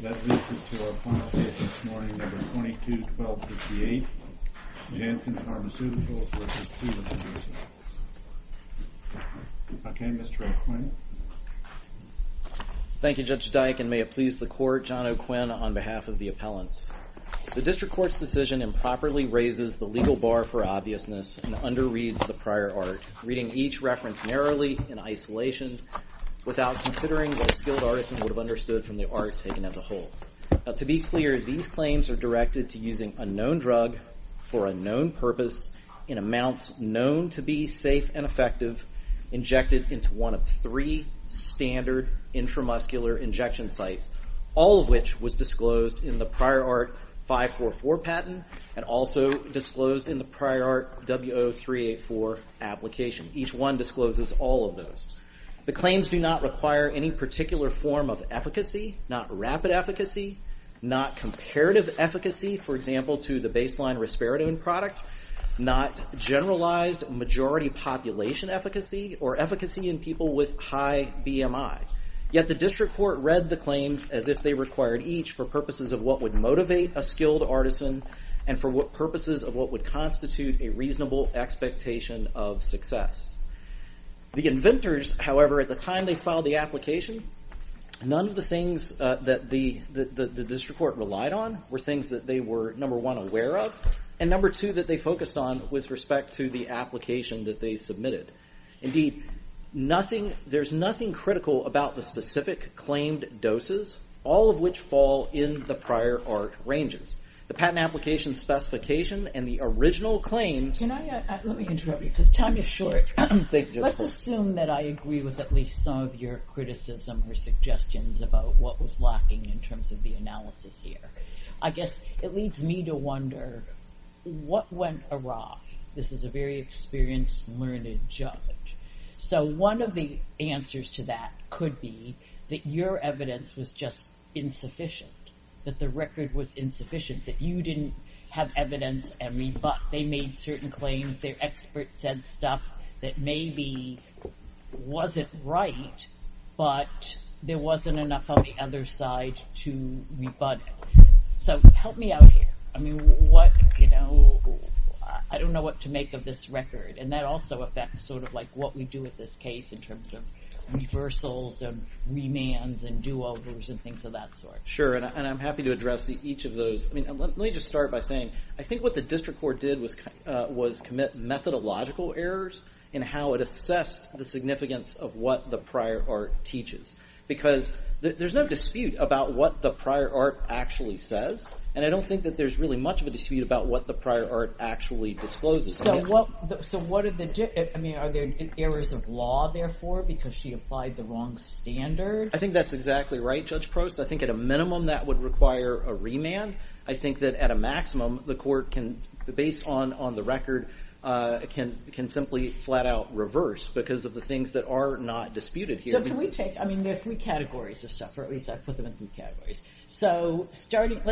That leads us to our final case this morning, number 22-12-58, Janssen Pharmaceuticals v. Teva Pharmaceuticals. Okay, Mr. O'Quinn. Thank you, Judge Dike, and may it please the Court, John O'Quinn on behalf of the appellants. The District Court's decision improperly raises the legal bar for obviousness and underreads the prior art, reading each reference narrowly in isolation without considering what a skilled artisan would have understood from the art taken as a whole. To be clear, these claims are directed to using a known drug for a known purpose in amounts known to be safe and effective, injected into one of three standard intramuscular injection sites, all of which was disclosed in the prior art 544 patent and also disclosed in the prior art W0384 application. Each one discloses all of those. The claims do not require any particular form of efficacy, not rapid efficacy, not comparative efficacy, for example, to the baseline Risperidone product, not generalized majority population efficacy or efficacy in people with high BMI. Yet the District Court read the claims as if they required each for purposes of what would motivate a skilled artisan and for purposes of what would constitute a reasonable expectation of success. The inventors, however, at the time they filed the application, none of the things that the District Court relied on were things that they were, number one, aware of, and number two, that they focused on with respect to the application that they submitted. Indeed, there's nothing critical about the specific claimed doses, all of which fall in the prior art ranges. The patent application specification and the original claims... Let me interrupt you because time is short. Let's assume that I agree with at least some of your criticism or suggestions about what was lacking in terms of the analysis here. I guess it leads me to wonder, what went awry? This is a very experienced, learned judge. One of the answers to that could be that your evidence was just insufficient, that the record was insufficient, that you didn't have evidence. They made certain claims. Their experts said stuff that maybe wasn't right, but there wasn't enough on the other side to rebut it. Help me out here. I don't know what to make of this record. That also affects what we do with this case in terms of reversals and remands and do-overs and things of that sort. Sure, and I'm happy to address each of those. Let me just start by saying I think what the District Court did was commit methodological errors in how it assessed the significance of what the prior art teaches because there's no dispute about what the prior art actually says. I don't think that there's really much of a dispute about what the prior art actually discloses. Are there errors of law, therefore, because she applied the wrong standard? I think that's exactly right, Judge Prost. I think at a minimum, that would require a remand. I think that at a maximum, the court, based on the record, can simply flat-out reverse because of the things that are not disputed here. There are three categories of stuff, or at least I've put them in three categories. Let's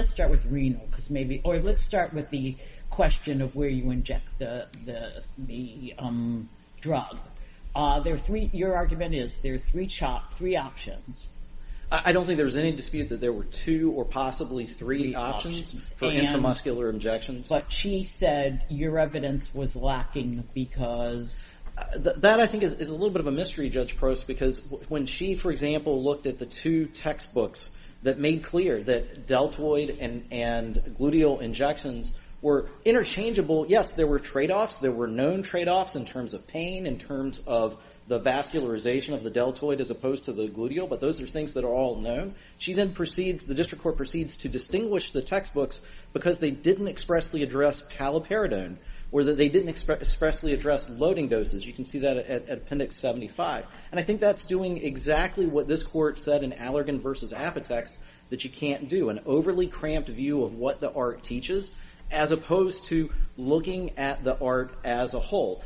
start with renal, or let's start with the question of where you inject the drug. Your argument is there are three options. I don't think there's any dispute that there were two or possibly three options for intramuscular injections. But she said your evidence was lacking because... That, I think, is a little bit of a mystery, Judge Prost, because when she, for example, looked at the two textbooks that made clear that deltoid and gluteal injections were interchangeable, yes, there were trade-offs. There were known trade-offs in terms of pain, in terms of the vascularization of the deltoid as opposed to the gluteal, but those are things that are all known. The district court proceeds to distinguish the textbooks because they didn't expressly address caliperidone, or they didn't expressly address loading doses. You can see that at Appendix 75. I think that's doing exactly what this court said in Allergan v. Apotex, that you can't do an overly cramped view of what the art teaches as opposed to looking at the art as a whole.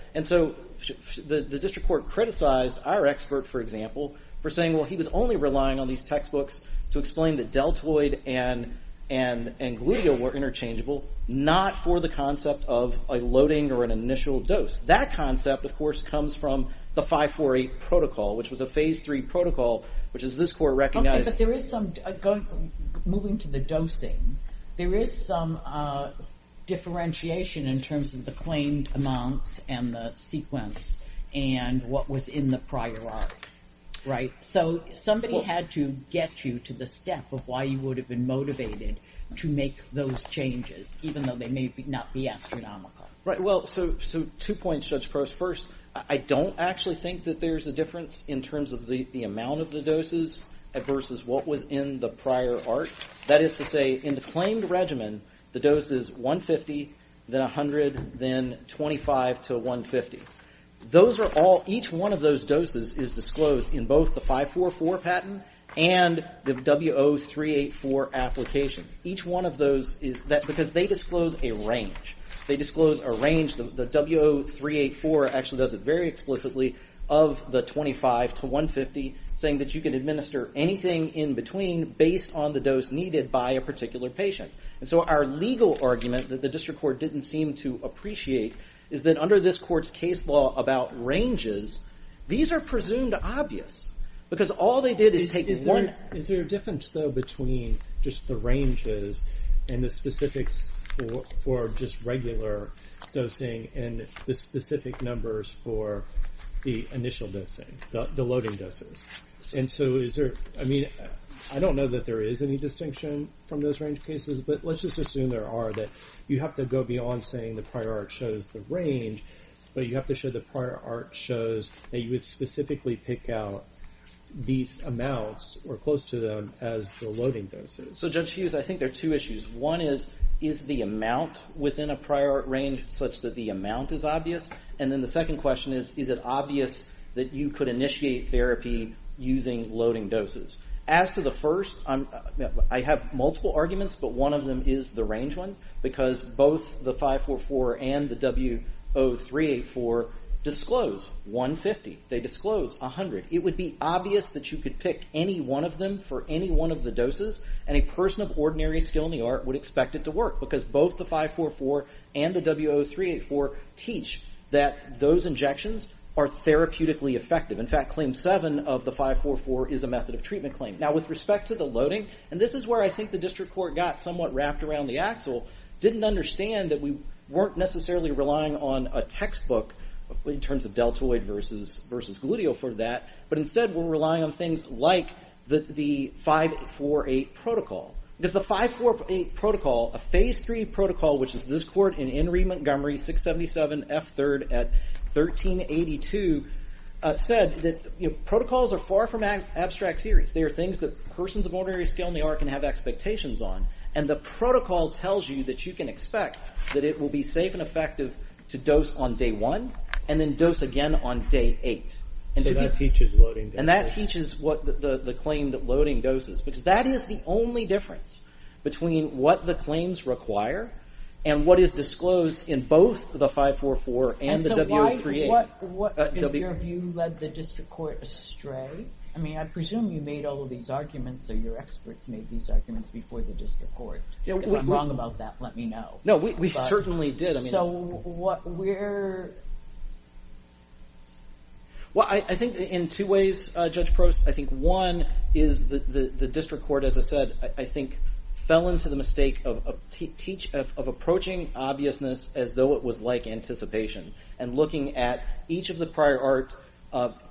The district court criticized our expert, for example, for saying he was only relying on these textbooks to explain that deltoid and gluteal were interchangeable, not for the concept of a loading or an initial dose. That concept, of course, comes from the 548 protocol, which was a Phase III protocol, which this court recognized. Okay, but moving to the dosing, there is some differentiation in terms of the claimed amounts and the sequence and what was in the prior art, right? So somebody had to get you to the step of why you would have been motivated to make those changes, even though they may not be astronomical. Right, well, so two points, Judge Crouse. First, I don't actually think that there's a difference in terms of the amount of the doses versus what was in the prior art. That is to say, in the claimed regimen, the dose is 150, then 100, then 25 to 150. Each one of those doses is disclosed in both the 544 patent and the W0384 application. That's because they disclose a range. They disclose a range. The W0384 actually does it very explicitly of the 25 to 150, saying that you can administer anything in between based on the dose needed by a particular patient. And so our legal argument that the district court didn't seem to appreciate is that under this court's case law about ranges, these are presumed obvious, because all they did is take one... Is there a difference, though, between just the ranges and the specifics for just regular dosing and the specific numbers for the initial dosing, the loading doses? And so is there... I mean, I don't know that there is any distinction from those range cases, but let's just assume there are, that you have to go beyond saying the prior art shows the range, but you have to show the prior art shows that you would specifically pick out these amounts or close to them as the loading doses. So, Judge Hughes, I think there are two issues. One is, is the amount within a prior art range such that the amount is obvious? And then the second question is, is it obvious that you could initiate therapy using loading doses? As to the first, I have multiple arguments, but one of them is the range one, because both the 544 and the W0384 disclose 150. They disclose 100. It would be obvious that you could pick any one of them for any one of the doses, and a person of ordinary skill in the art would expect it to work, because both the 544 and the W0384 teach that those injections are therapeutically effective. In fact, Claim 7 of the 544 is a method of treatment claim. Now, with respect to the loading, and this is where I think the district court got somewhat wrapped around the axle, didn't understand that we weren't necessarily relying on a textbook in terms of deltoid versus gluteal for that, but instead we're relying on things like the 548 protocol. Because the 548 protocol, a phase three protocol, which is this court in Enry, Montgomery, 677 F3rd at 1382, said that protocols are far from abstract theories. They are things that persons of ordinary skill in the art can have expectations on, and the protocol tells you that you can expect that it will be safe and effective to dose on day one, and then dose again on day eight. So that teaches loading doses. And that teaches what the claim loading doses, because that is the only difference between what the claims require and what is disclosed in both the 544 and the W038. So why, what is your view, led the district court astray? I mean, I presume you made all of these arguments, or your experts made these arguments before the district court. If I'm wrong about that, let me know. No, we certainly did. So what we're... Well, I think in two ways, Judge Prost. I think one is the district court, as I said, I think fell into the mistake of approaching obviousness as though it was like anticipation, and looking at each of the prior art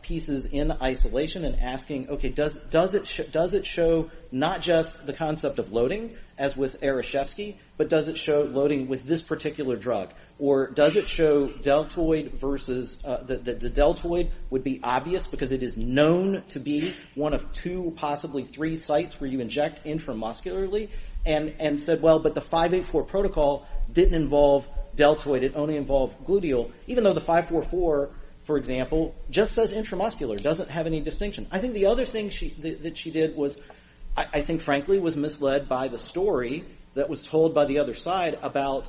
pieces in isolation and asking, okay, does it show not just the concept of loading, as with Arashevsky, but does it show loading with this particular drug? Or does it show deltoid versus... that the deltoid would be obvious, because it is known to be one of two, possibly three sites where you inject intramuscularly, and said, well, but the 584 protocol didn't involve deltoid, it only involved gluteal, even though the 544, for example, just does intramuscular, doesn't have any distinction. I think the other thing that she did was, I think, frankly, was misled by the story that was told by the other side about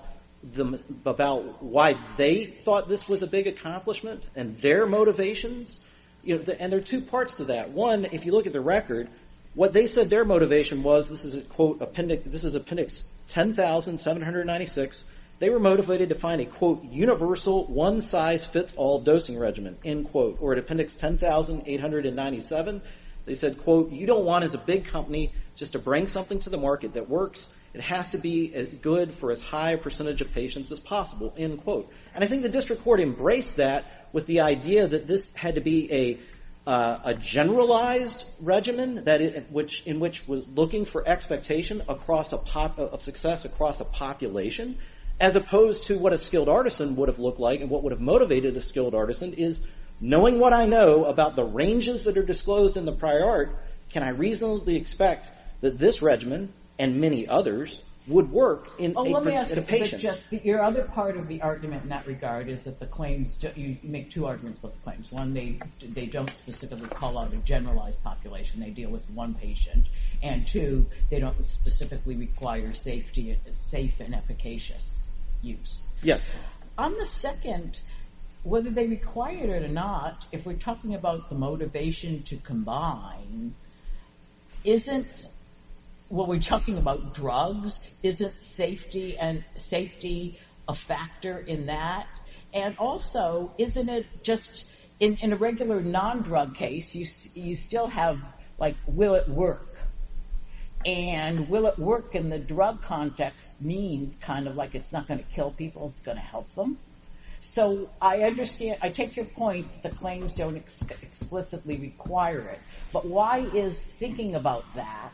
why they thought this was a big accomplishment and their motivations. And there are two parts to that. One, if you look at the record, what they said their motivation was, this is appendix 10,796, they were motivated to find a quote, universal, one-size-fits-all dosing regimen, end quote, or at appendix 10,897, they said, quote, you don't want, as a big company, just to bring something to the market that works, it has to be good for as high a percentage of patients as possible, end quote. And I think the district court embraced that with the idea that this had to be a generalized regimen, in which was looking for expectation of success across a population, as opposed to what a skilled artisan would have looked like and what would have motivated a skilled artisan, is, knowing what I know about the ranges that are disclosed in the prior art, can I reasonably expect that this regimen, and many others, would work in a patient? Let me ask you, your other part of the argument in that regard is that you make two arguments about the claims. One, they don't specifically call out a generalized population, they deal with one patient. And two, they don't specifically require safe and efficacious use. Yes. On the second, whether they require it or not, if we're talking about the motivation to combine isn't, when we're talking about drugs, isn't safety a factor in that? And also, isn't it just, in a regular non-drug case, you still have, like, will it work? And will it work in the drug context means kind of like it's not going to kill people, it's going to help them. So I understand, I take your point that the claims don't explicitly require it. But why is thinking about that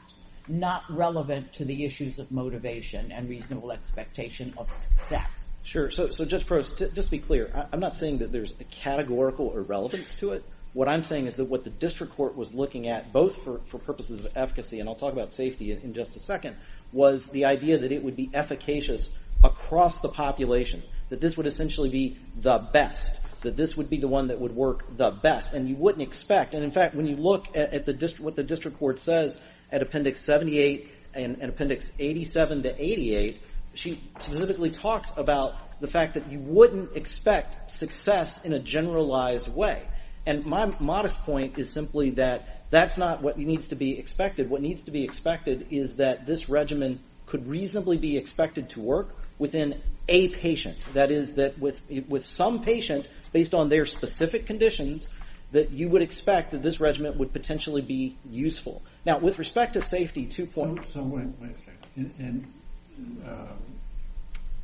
not relevant to the issues of motivation and reasonable expectation of success? Sure, so Judge Prost, just to be clear, I'm not saying that there's a categorical irrelevance to it. What I'm saying is that what the district court was looking at, both for purposes of efficacy, and I'll talk about safety in just a second, was the idea that it would be efficacious across the population. That this would essentially be the best. That this would be the one that would work the best. And you wouldn't expect. And in fact, when you look at what the district court says at Appendix 78 and Appendix 87 to 88, she specifically talks about the fact that you wouldn't expect success in a generalized way. And my modest point is simply that that's not what needs to be expected. What needs to be expected is that this regimen could reasonably be expected to work within a patient. That is, that with some patient, based on their specific conditions, that you would expect that this regimen would potentially be useful. Now, with respect to safety, two points. So wait a second. And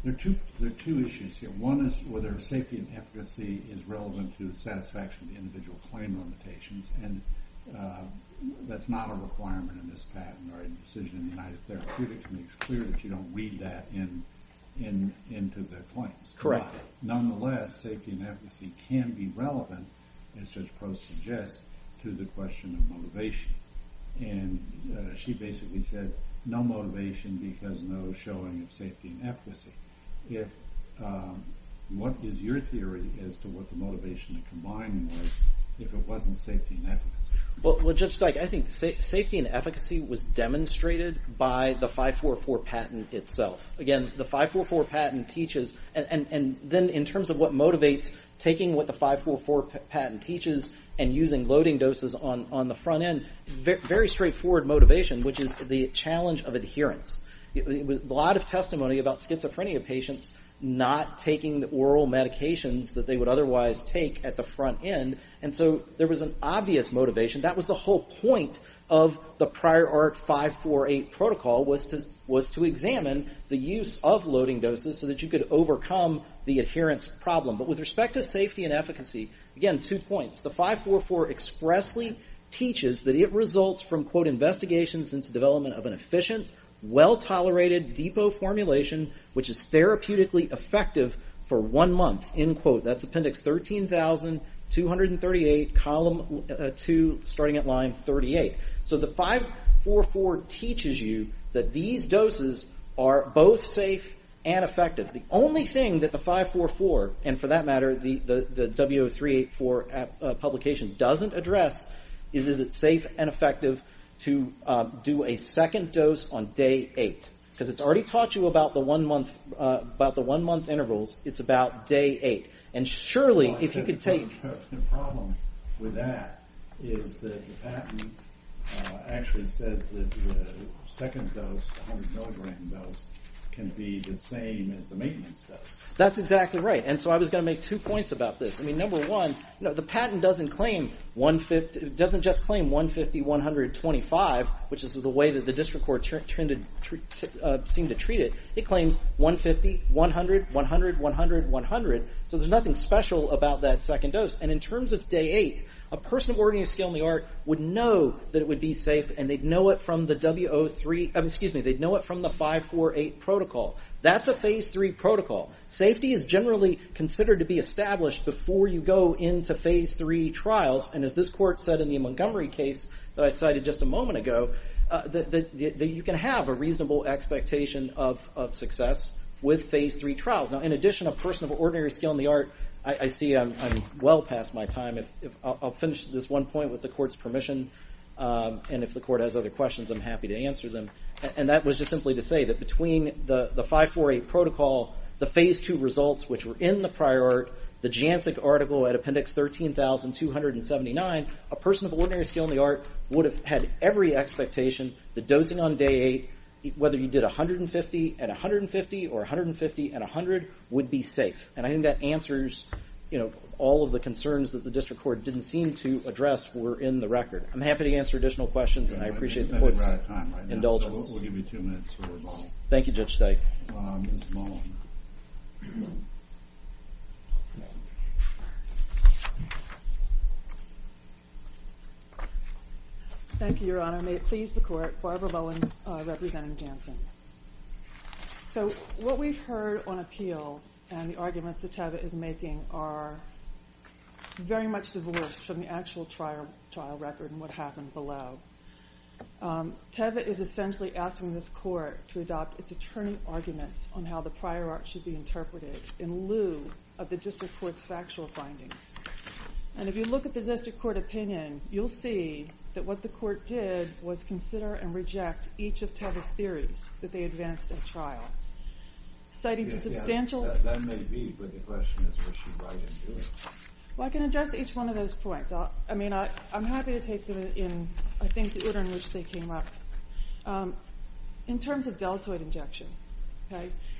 there are two issues here. One is whether safety and efficacy is relevant to the satisfaction of the individual claim limitations. And that's not a requirement in this patent or a decision in United Therapeutics makes clear that you don't weed that into the claims. Correct. Nonetheless, safety and efficacy can be relevant as Judge Post suggests to the question of motivation. And she basically said no motivation because no showing of safety and efficacy. What is your theory as to what the motivation of combining was if it wasn't safety and efficacy? Well, Judge Dyke, I think safety and efficacy was demonstrated by the 544 patent itself. and then in terms of what motivates, taking what the 544 patent teaches and using loading doses on the front end, very straightforward motivation, which is the challenge of adherence. A lot of testimony about schizophrenia patients not taking the oral medications that they would otherwise take at the front end. And so there was an obvious motivation. That was the whole point of the prior art 548 protocol was to examine the use of loading doses so that you could overcome the adherence problem. But with respect to safety and efficacy, again, two points. The 544 expressly teaches that it results from, quote, investigations into development of an efficient, well-tolerated depot formulation, which is therapeutically effective for one month, end quote. That's Appendix 13,238, Column 2, starting at line 38. So the 544 teaches you that these doses are both safe and effective. The only thing that the 544, and for that matter, the W0384 publication doesn't address is is it safe and effective to do a second dose on day 8? Because it's already taught you about the one-month intervals. It's about day 8. And surely, if you could take... The problem with that is that the patent actually says that the second dose, the 100-milligram dose, can be the same as the maintenance dose. That's exactly right. And so I was going to make two points about this. I mean, number one, the patent doesn't just claim 150, 100, 25, which is the way that the district court seemed to treat it. It claims 150, 100, 100, 100, 100. So there's nothing special about that second dose. And in terms of day 8, a person of ordinary skill in the art would know that it would be safe, and they'd know it from the W03... protocol. That's a phase 3 protocol. Safety is generally considered to be established before you go into phase 3 trials. And as this court said in the Montgomery case that I cited just a moment ago, that you can have a reasonable expectation of success with phase 3 trials. Now, in addition, a person of ordinary skill in the art... I see I'm well past my time. I'll finish this one point with the court's permission. And if the court has other questions, I'm happy to answer them. And that was just simply to say that between the 548 protocol, the phase 2 results which were in the prior art, the Jancic article at appendix 13,279, a person of ordinary skill in the art would have had every expectation that dosing on day 8, whether you did 150 and 150, or 150 and 100, would be safe. And I think that answers, you know, all of the concerns that the district court didn't seem to address were in the record. I'm happy to answer additional questions, and I appreciate the court's indulgence. So we'll give you two minutes for rebuttal. Thank you, Judge Steik. Ms. Mullen. Thank you, Your Honor. May it please the court, Barbara Mullen representing Jancic. So what we've heard on appeal and the arguments that Tavit is making are very much divorced from the actual trial record and what happened below. Tavit is essentially asking this court to adopt its attorney arguments on how the prior art should be interpreted in lieu of the district court's factual findings. And if you look at the district court opinion, you'll see that what the court did was consider and reject each of Tavit's theories that they advanced at trial, citing the substantial... That may be, but the question is what she might have been doing. Well, I can address each one of those points. I mean, I'm happy to take them in, I think, the order in which they came up. In terms of deltoid injection,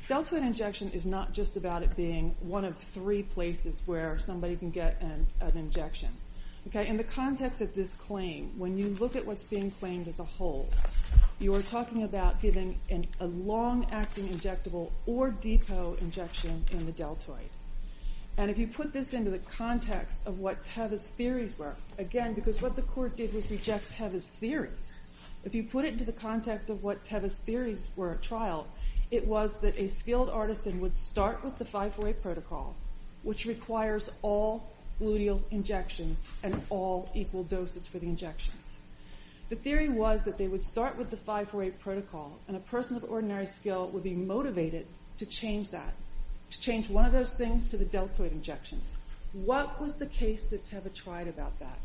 deltoid injection is not just about it being one of three places where somebody can get an injection. In the context of this claim, when you look at what's being claimed as a whole, you are talking about giving a long-acting injectable or depot injection in the deltoid. And if you put this into the context of what Tavit's theories were, again, because what the court did was reject Tavit's theories, if you put it into the context of what Tavit's theories were at trial, it was that a skilled artisan would start with the 548 protocol, which requires all gluteal injections and all equal doses for the injections. The theory was that they would start with the 548 protocol and a person of ordinary skill would be motivated to change that, to change one of those things to the deltoid injections. What was the case that Tavit tried about that?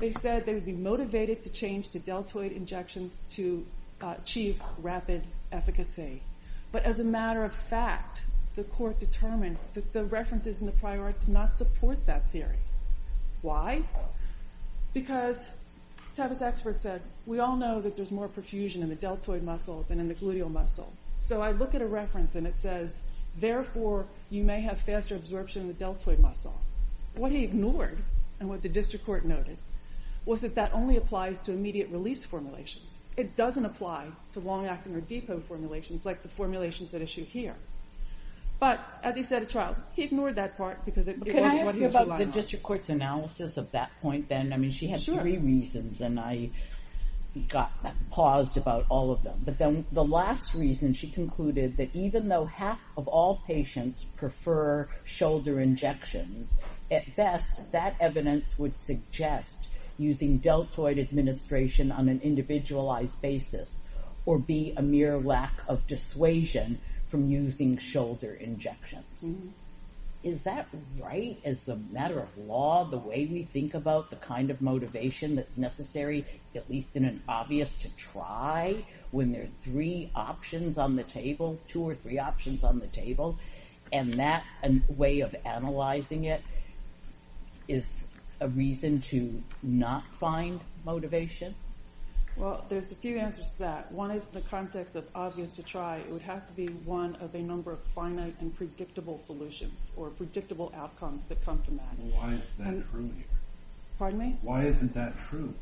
They said they would be motivated to change to deltoid injections to achieve rapid efficacy. But as a matter of fact, the court determined that the references in the prior act did not support that theory. Why? Because Tavit's expert said, we all know that there's more perfusion in the deltoid muscle than in the gluteal muscle. So I look at a reference, and it says, therefore, you may have faster absorption in the deltoid muscle. What he ignored, and what the district court noted, was that that only applies to immediate release formulations. It doesn't apply to long-acting or depot formulations like the formulations at issue here. But as he said at trial, he ignored that part because it wasn't what he was relying on. Can I ask you about the district court's analysis of that point then? I mean, she had three reasons, and I paused about all of them. But then the last reason, she concluded that even though half of all patients prefer shoulder injections, at best, that evidence would suggest using deltoid administration on an individualized basis or be a mere lack of dissuasion from using shoulder injections. Is that right as a matter of law, the way we think about the kind of motivation that's necessary, at least in an obvious, to try when there are three options on the table, two or three options on the table, and that way of analyzing it is a reason to not find motivation? Well, there's a few answers to that. One is in the context of obvious to try, it would have to be one of a number of finite and predictable solutions or predictable outcomes that come from that. Why isn't that true here? Pardon me? Why isn't that true?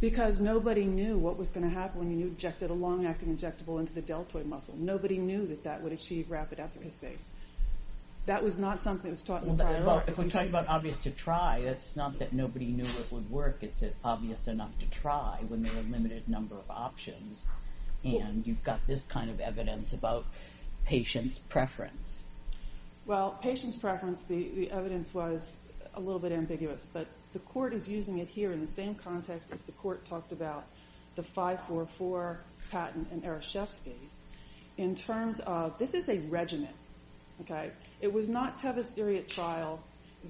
Because nobody knew what was going to happen when you injected a long-acting injectable into the deltoid muscle. Nobody knew that that would achieve rapid efficacy. That was not something that was taught in dialogue. Well, if we're talking about obvious to try, it's not that nobody knew it would work. It's obvious enough to try when there are a limited number of options, and you've got this kind of evidence about patient's preference. Well, patient's preference, the evidence was a little bit ambiguous, but the court is using it here in the same context as the court talked about the 544, Patton, and Arashefsky. This is a regimen. It was not Tavist-Eriot trial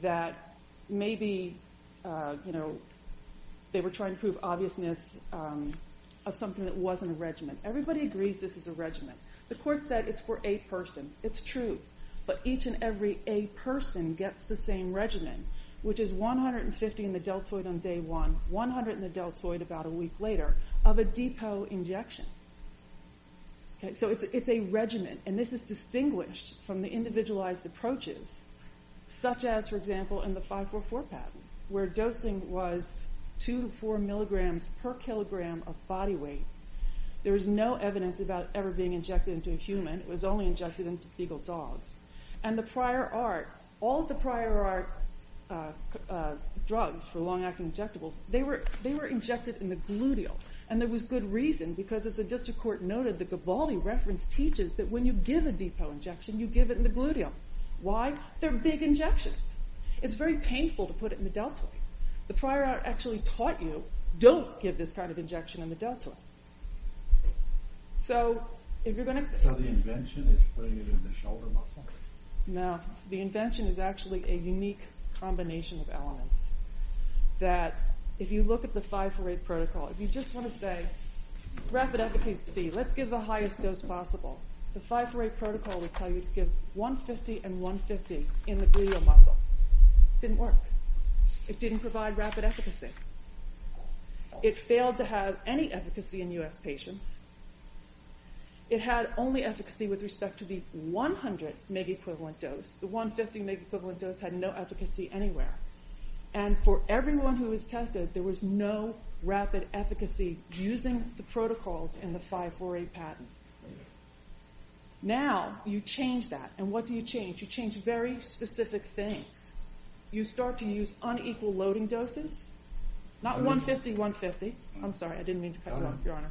that maybe they were trying to prove obviousness of something that wasn't a regimen. Everybody agrees this is a regimen. The court said it's for a person. It's true, but each and every a person gets the same regimen, which is 150 in the deltoid on day one, 100 in the deltoid about a week later, of a depo injection. So it's a regimen, and this is distinguished from the individualized approaches, such as, for example, in the 544, Patton, where dosing was 2 to 4 milligrams per kilogram of body weight. There was no evidence about ever being injected into a human. It was only injected into fecal dogs. And the prior art, all the prior art drugs for long-acting injectables, they were injected in the gluteal, and there was good reason, because as the district court noted, the Gavaldi reference teaches that when you give a depo injection, you give it in the gluteal. Why? They're big injections. It's very painful to put it in the deltoid. The prior art actually taught you don't give this kind of injection in the deltoid. So if you're going to... So the invention is putting it in the shoulder muscle? No, the invention is actually a unique combination of elements that if you look at the 548 protocol, if you just want to say, rapid efficacy, let's give the highest dose possible, the 548 protocol would tell you to give 150 and 150 in the gluteal muscle. Didn't work. It didn't provide rapid efficacy. It failed to have any efficacy in US patients. It had only efficacy with respect to the 100 mg equivalent dose. The 150 mg equivalent dose had no efficacy anywhere. And for everyone who was tested, there was no rapid efficacy using the protocols in the 548 patent. Now you change that, and what do you change? You change very specific things. You start to use unequal loading doses, not 150, 150. I'm sorry, I didn't mean to cut you off, Your Honor.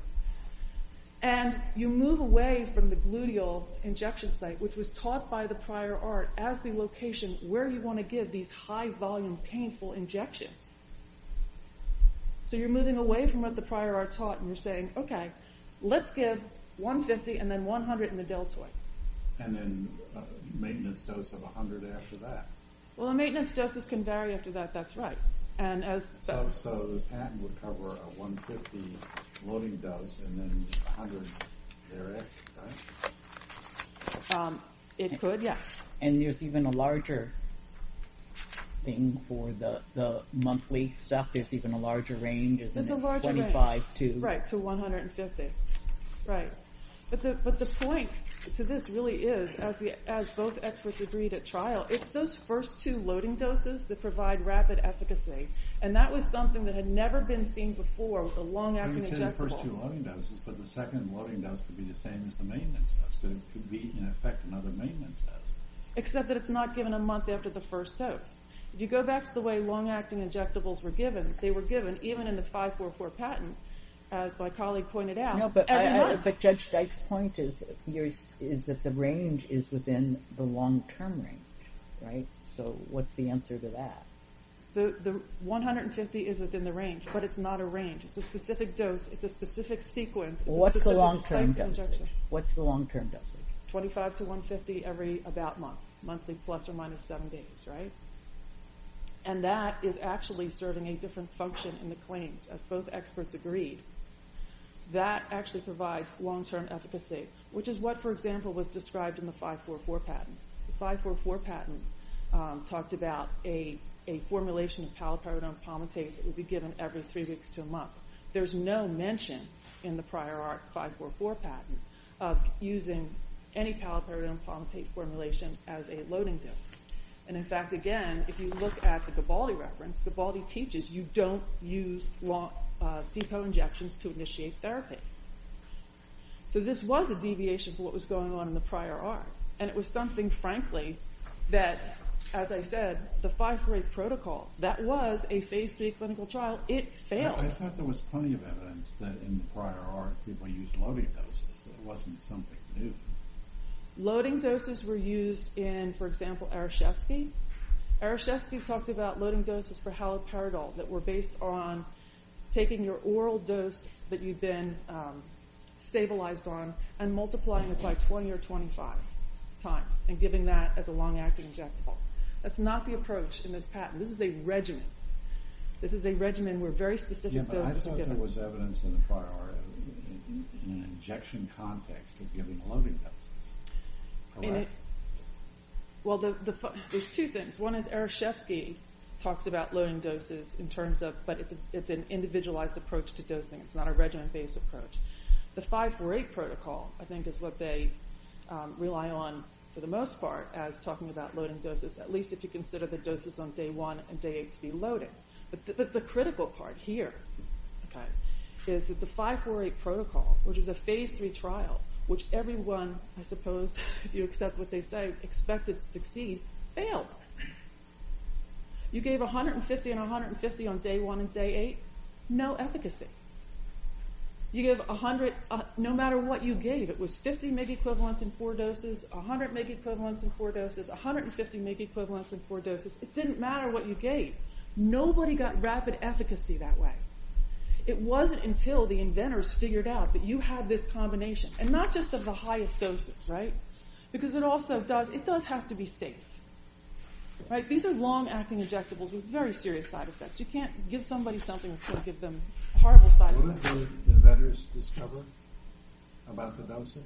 And you move away from the gluteal injection site, which was taught by the prior art as the location where you want to give these high-volume painful injections. So you're moving away from what the prior art taught, and you're saying, okay, let's give 150, and then 100 in the deltoid. And then a maintenance dose of 100 after that. Well, the maintenance doses can vary after that, that's right. So the patent would cover a 150 loading dose and then 100 air-ex, right? It could, yes. And there's even a larger thing for the monthly stuff? There's even a larger range? There's a larger range, right, to 150. But the point to this really is, as both experts agreed at trial, it's those first two loading doses that provide rapid efficacy, and that was something that had never been seen before with a long-acting injectable. You said the first two loading doses, but the second loading dose could be the same as the maintenance dose. It could be, in effect, another maintenance dose. Except that it's not given a month after the first dose. If you go back to the way long-acting injectables were given, they were given even in the 544 patent, as my colleague pointed out, every month. No, but Judge Dyke's point is that the range is within the long-term range, right? So what's the answer to that? The 150 is within the range, but it's not a range. It's a specific dose. It's a specific sequence. What's the long-term dosage? What's the long-term dosage? 25 to 150 every about month. Monthly plus or minus seven days, right? And that is actually serving a different function in the claims. As both experts agreed, that actually provides long-term efficacy, which is what, for example, was described in the 544 patent. The 544 patent talked about a formulation of paliperidone palmitate that would be given every three weeks to a month. There's no mention in the prior art 544 patent of using any paliperidone palmitate formulation as a loading dose. And, in fact, again, if you look at the Gabaldi reference, Gabaldi teaches you don't use decone injections to initiate therapy. So this was a deviation from what was going on in the prior art, and it was something, frankly, that, as I said, the 548 protocol, that was a phase 3 clinical trial. It failed. I thought there was plenty of evidence that in the prior art people used loading doses. It wasn't something new. Loading doses were used in, for example, Arashefsky. Arashefsky talked about loading doses for haloperidol that were based on taking your oral dose that you'd been stabilized on and multiplying it by 20 or 25 times and giving that as a long-acting injectable. That's not the approach in this patent. This is a regimen. This is a regimen where very specific doses are given. Yeah, but I thought there was evidence in the prior art in an injection context of giving loading doses. Correct? Well, there's two things. One is Arashefsky talks about loading doses in terms of... But it's an individualized approach to dosing. It's not a regimen-based approach. The 548 protocol, I think, is what they rely on for the most part as talking about loading doses, at least if you consider the doses on day 1 and day 8 to be loading. But the critical part here is that the 548 protocol, which is a phase 3 trial, which everyone, I suppose, if you accept what they say, expected to succeed, failed. You gave 150 and 150 on day 1 and day 8? No efficacy. No matter what you gave, it was 50 megaequivalents in 4 doses, 100 megaequivalents in 4 doses, 150 megaequivalents in 4 doses. It didn't matter what you gave. Nobody got rapid efficacy that way. It wasn't until the inventors figured out that you had this combination. And not just of the highest doses, right? Because it does have to be safe. These are long-acting injectables with very serious side effects. You can't give somebody something that's going to give them a horrible side effect. What did the inventors discover about the dosing?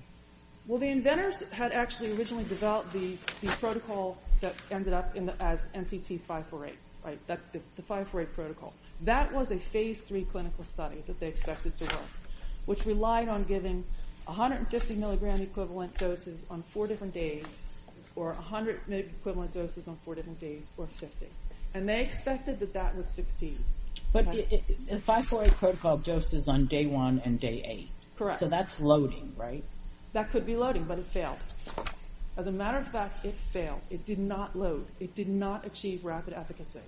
Well, the inventors had actually originally developed the protocol that ended up as NCT 548, right? That's the 548 protocol. That was a phase 3 clinical study that they expected to work, which relied on giving 150 milligram equivalent doses on 4 different days, or 100 megaequivalent doses on 4 different days, or 50. And they expected that that would succeed. But the 548 protocol doses on day 1 and day 8. Correct. So that's loading, right? That could be loading, but it failed. As a matter of fact, it failed. It did not load. It did not achieve rapid efficacy.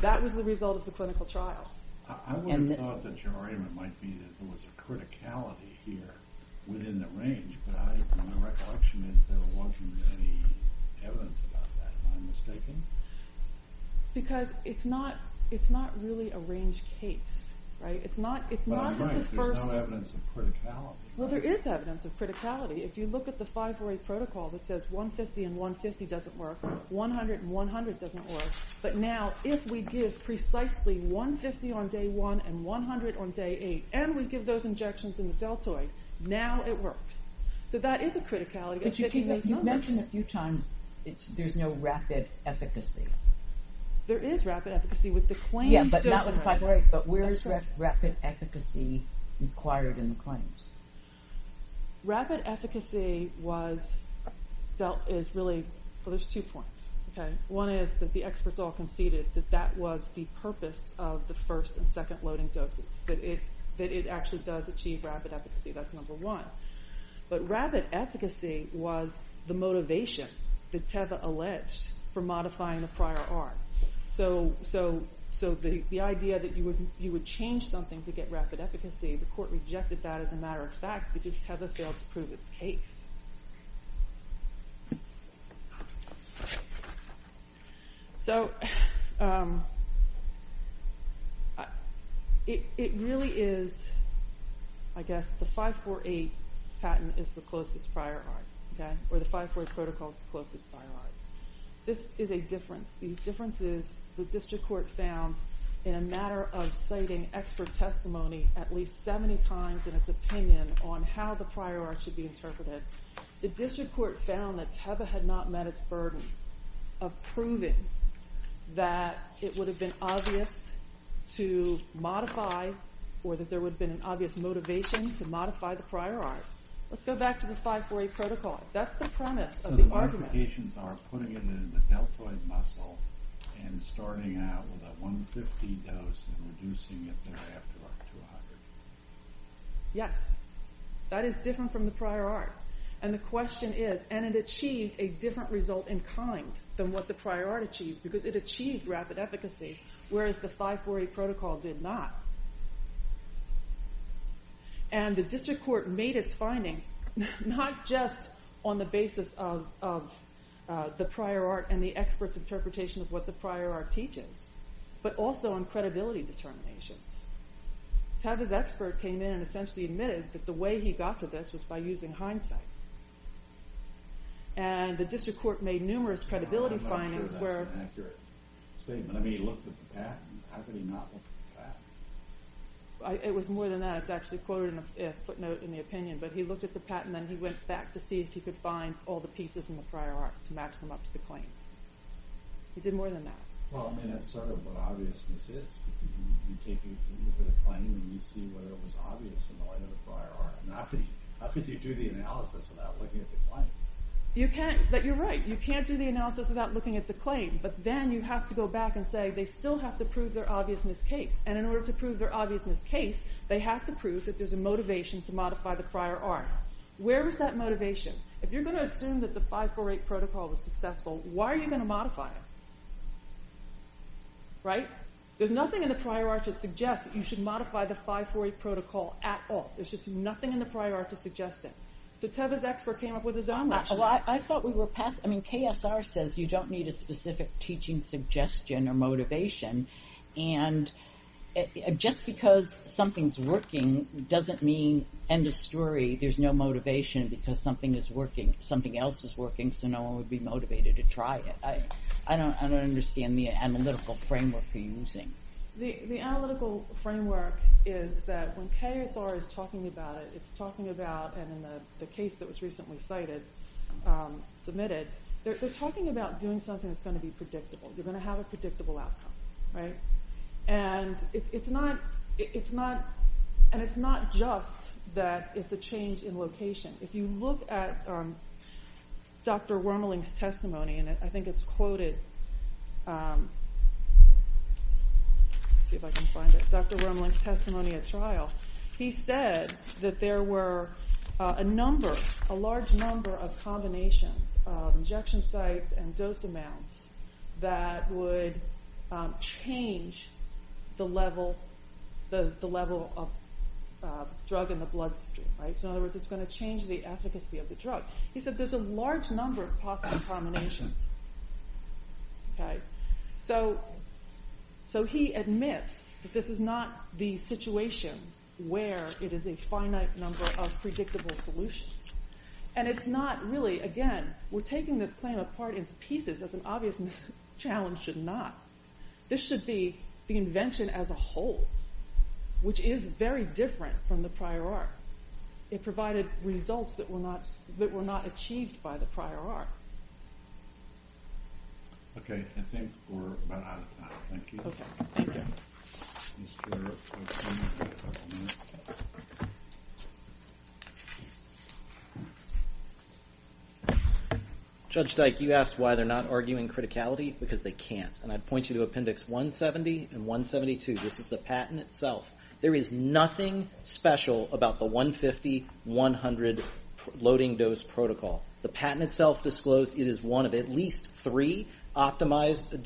That was the result of the clinical trial. I would have thought that your argument might be that there was a criticality here within the range, but my recollection is there wasn't any evidence about that, if I'm mistaken. Because it's not really a range case, right? But I'm right, there's no evidence of criticality. Well, there is evidence of criticality. If you look at the 548 protocol that says 150 and 150 doesn't work, 100 and 100 doesn't work, but now if we give precisely 150 on day 1 and 100 on day 8, and we give those injections in the deltoid, now it works. So that is a criticality. But you've mentioned a few times there's no rapid efficacy. There is rapid efficacy with the claims. Yeah, but not with the 548. But where is rapid efficacy required in the claims? Rapid efficacy was dealt with really, well, there's two points. One is that the experts all conceded that that was the purpose of the first and second loading doses, that it actually does achieve rapid efficacy. That's number one. But rapid efficacy was the motivation that Teva alleged for modifying the prior art. So the idea that you would change something to get rapid efficacy, the court rejected that as a matter of fact because Teva failed to prove its case. So it really is, I guess, the 548 patent is the closest prior art. Or the 548 protocol is the closest prior art. This is a difference. The difference is the district court found in a matter of citing expert testimony at least 70 times in its opinion on how the prior art should be interpreted the district court found that Teva had not met its burden of proving that it would have been obvious to modify or that there would have been an obvious motivation to modify the prior art. Let's go back to the 548 protocol. That's the premise of the argument. So the modifications are putting it in the deltoid muscle and starting out with a 150 dose and reducing it thereafter up to 100. Yes. That is different from the prior art. And the question is, and it achieved a different result in kind than what the prior art achieved because it achieved rapid efficacy whereas the 548 protocol did not. And the district court made its findings not just on the basis of the prior art and the expert's interpretation of what the prior art teaches but also on credibility determinations. Teva's expert came in and essentially admitted that the way he got to this was by using hindsight. And the district court made numerous credibility findings where... I'm not sure that's an accurate statement. I mean, he looked at the patent. How could he not look at the patent? It was more than that. It's actually quoted in a footnote in the opinion. But he looked at the patent and then he went back to see if he could find all the pieces in the prior art to match them up to the claims. He did more than that. Well, I mean, that's sort of what obviousness is because you take a look at a claim and you see whether it was obvious in the light of the prior art. How could you do the analysis without looking at the claim? You can't, but you're right. You can't do the analysis without looking at the claim. But then you have to go back and say they still have to prove their obviousness case. And in order to prove their obviousness case, they have to prove that there's a motivation to modify the prior art. Where is that motivation? If you're going to assume that the 548 protocol was successful, why are you going to modify it? Right? There's nothing in the prior art to suggest that you should modify the 548 protocol at all. There's just nothing in the prior art to suggest it. So Teva's expert came up with his own motion. Well, I thought we were past... I mean, KSR says you don't need a specific teaching suggestion or motivation. And just because something's working doesn't mean, end of story, there's no motivation because something is working. Something else is working, so no one would be motivated to try it. I don't understand the analytical framework you're using. The analytical framework is that when KSR is talking about it, it's talking about, and in the case that was recently cited, submitted, they're talking about doing something that's going to be predictable. You're going to have a predictable outcome. Right? And it's not just that it's a change in location. If you look at Dr. Wormaling's testimony, and I think it's quoted... Let's see if I can find it. Dr. Wormaling's testimony at trial. He said that there were a number, a large number, of combinations of injection sites and dose amounts that would change the level of drug in the bloodstream. So in other words, it's going to change the efficacy of the drug. He said there's a large number of possible combinations. Okay? So he admits that this is not the situation where it is a finite number of predictable solutions. And it's not really, again, we're taking this claim apart into pieces as an obvious challenge should not. This should be the invention as a whole, which is very different from the prior art. It provided results that were not achieved by the prior art. Okay. I think we're about out of time. Thank you. Judge Dyke, you asked why they're not arguing criticality, because they can't. And I'd point you to Appendix 170 and 172. This is the patent itself. There is nothing special about the 150-100 loading dose protocol. The patent itself disclosed it is one of at least three optimized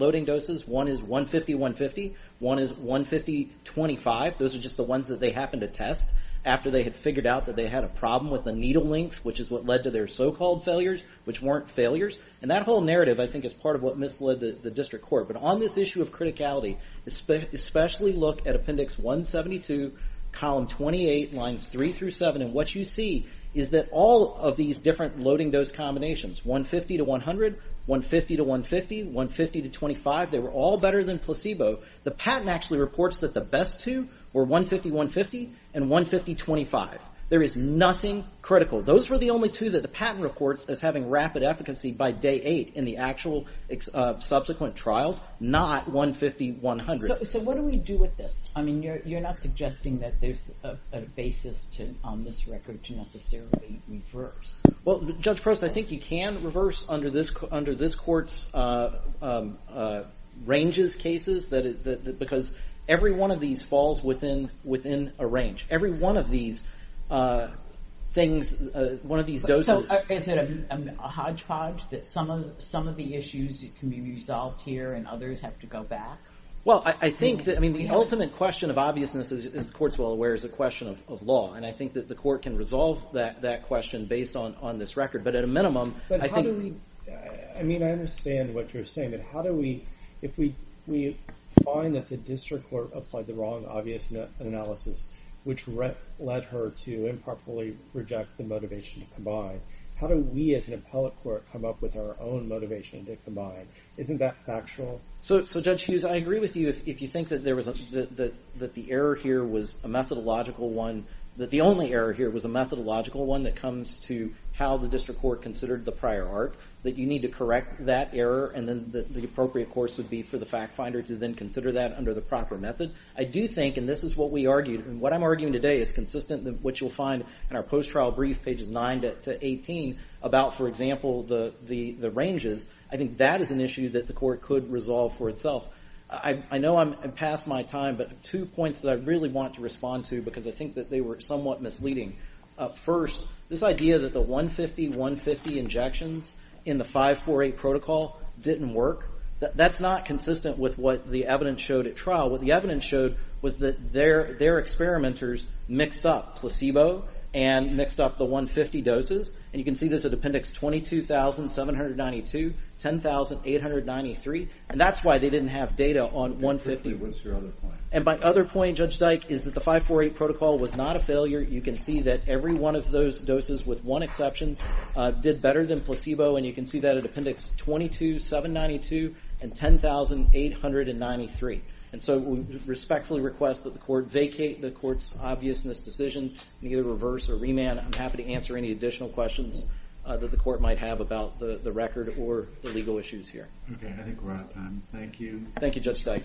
loading doses. One is 150-150. One is 150-25. Those are just the ones that they happened to test after they had figured out that they had a problem with the needle length, which is what led to their so-called failures, which weren't failures. And that whole narrative, I think, is part of what misled the district court. But on this issue of criticality, especially look at Appendix 172, Column 28, Lines 3-7, and what you see is that all of these different loading dose combinations, 150-100, 150-150, 150-25, they were all better than placebo. The patent actually reports that the best two were 150-150 and 150-25. There is nothing critical. Those were the only two that the patent reports as having rapid efficacy by day eight in the actual subsequent trials, not 150-100. So what do we do with this? You're not suggesting that there's a basis on this record to necessarily reverse. Well, Judge Preston, I think you can reverse under this court's ranges cases, because every one of these falls within a range. Every one of these things, one of these doses... Is it a hodgepodge that some of the issues can be resolved here and others have to go back? The ultimate question of obviousness, as the court's well aware, is a question of law, and I think that the court can resolve that question based on this record, but at a minimum... I mean, I understand what you're saying, but how do we... If we find that the district court applied the wrong obvious analysis, which led her to improperly reject the motivation to combine, how do we as an institution combine? Isn't that factual? So Judge Hughes, I agree with you if you think that the error here was a methodological one, that the only error here was a methodological one that comes to how the district court considered the prior art, that you need to correct that error, and the appropriate course would be for the fact finder to then consider that under the proper method. I do think, and this is what we argued, and what I'm arguing today is consistent with what you'll find in our post-trial brief, pages 9 to 18, about, for example, the ranges. I think that is an issue that the court could resolve for itself. I know I'm past my time, but two points that I really want to respond to, because I think that they were somewhat misleading. First, this idea that the 150, 150 injections in the 548 protocol didn't work, that's not consistent with what the evidence showed at trial. What the evidence showed was that their experimenters mixed up placebo and mixed up the 150 doses, and you can see this at appendix 22,792, 10,893, and that's why they didn't have data on 150. And my other point, Judge Dyke, is that the 548 protocol was not a failure. You can see that every one of those doses, with one exception, did better than placebo, and you can see that at appendix 22,792 and 10,893. And so we respectfully request that the court vacate the court's obviousness decision, and either reverse or remand. I'm happy to answer any additional questions that the court might have about the record or the legal issues here. Okay, I think we're out of time. Thank you. Thank you, Judge Dyke.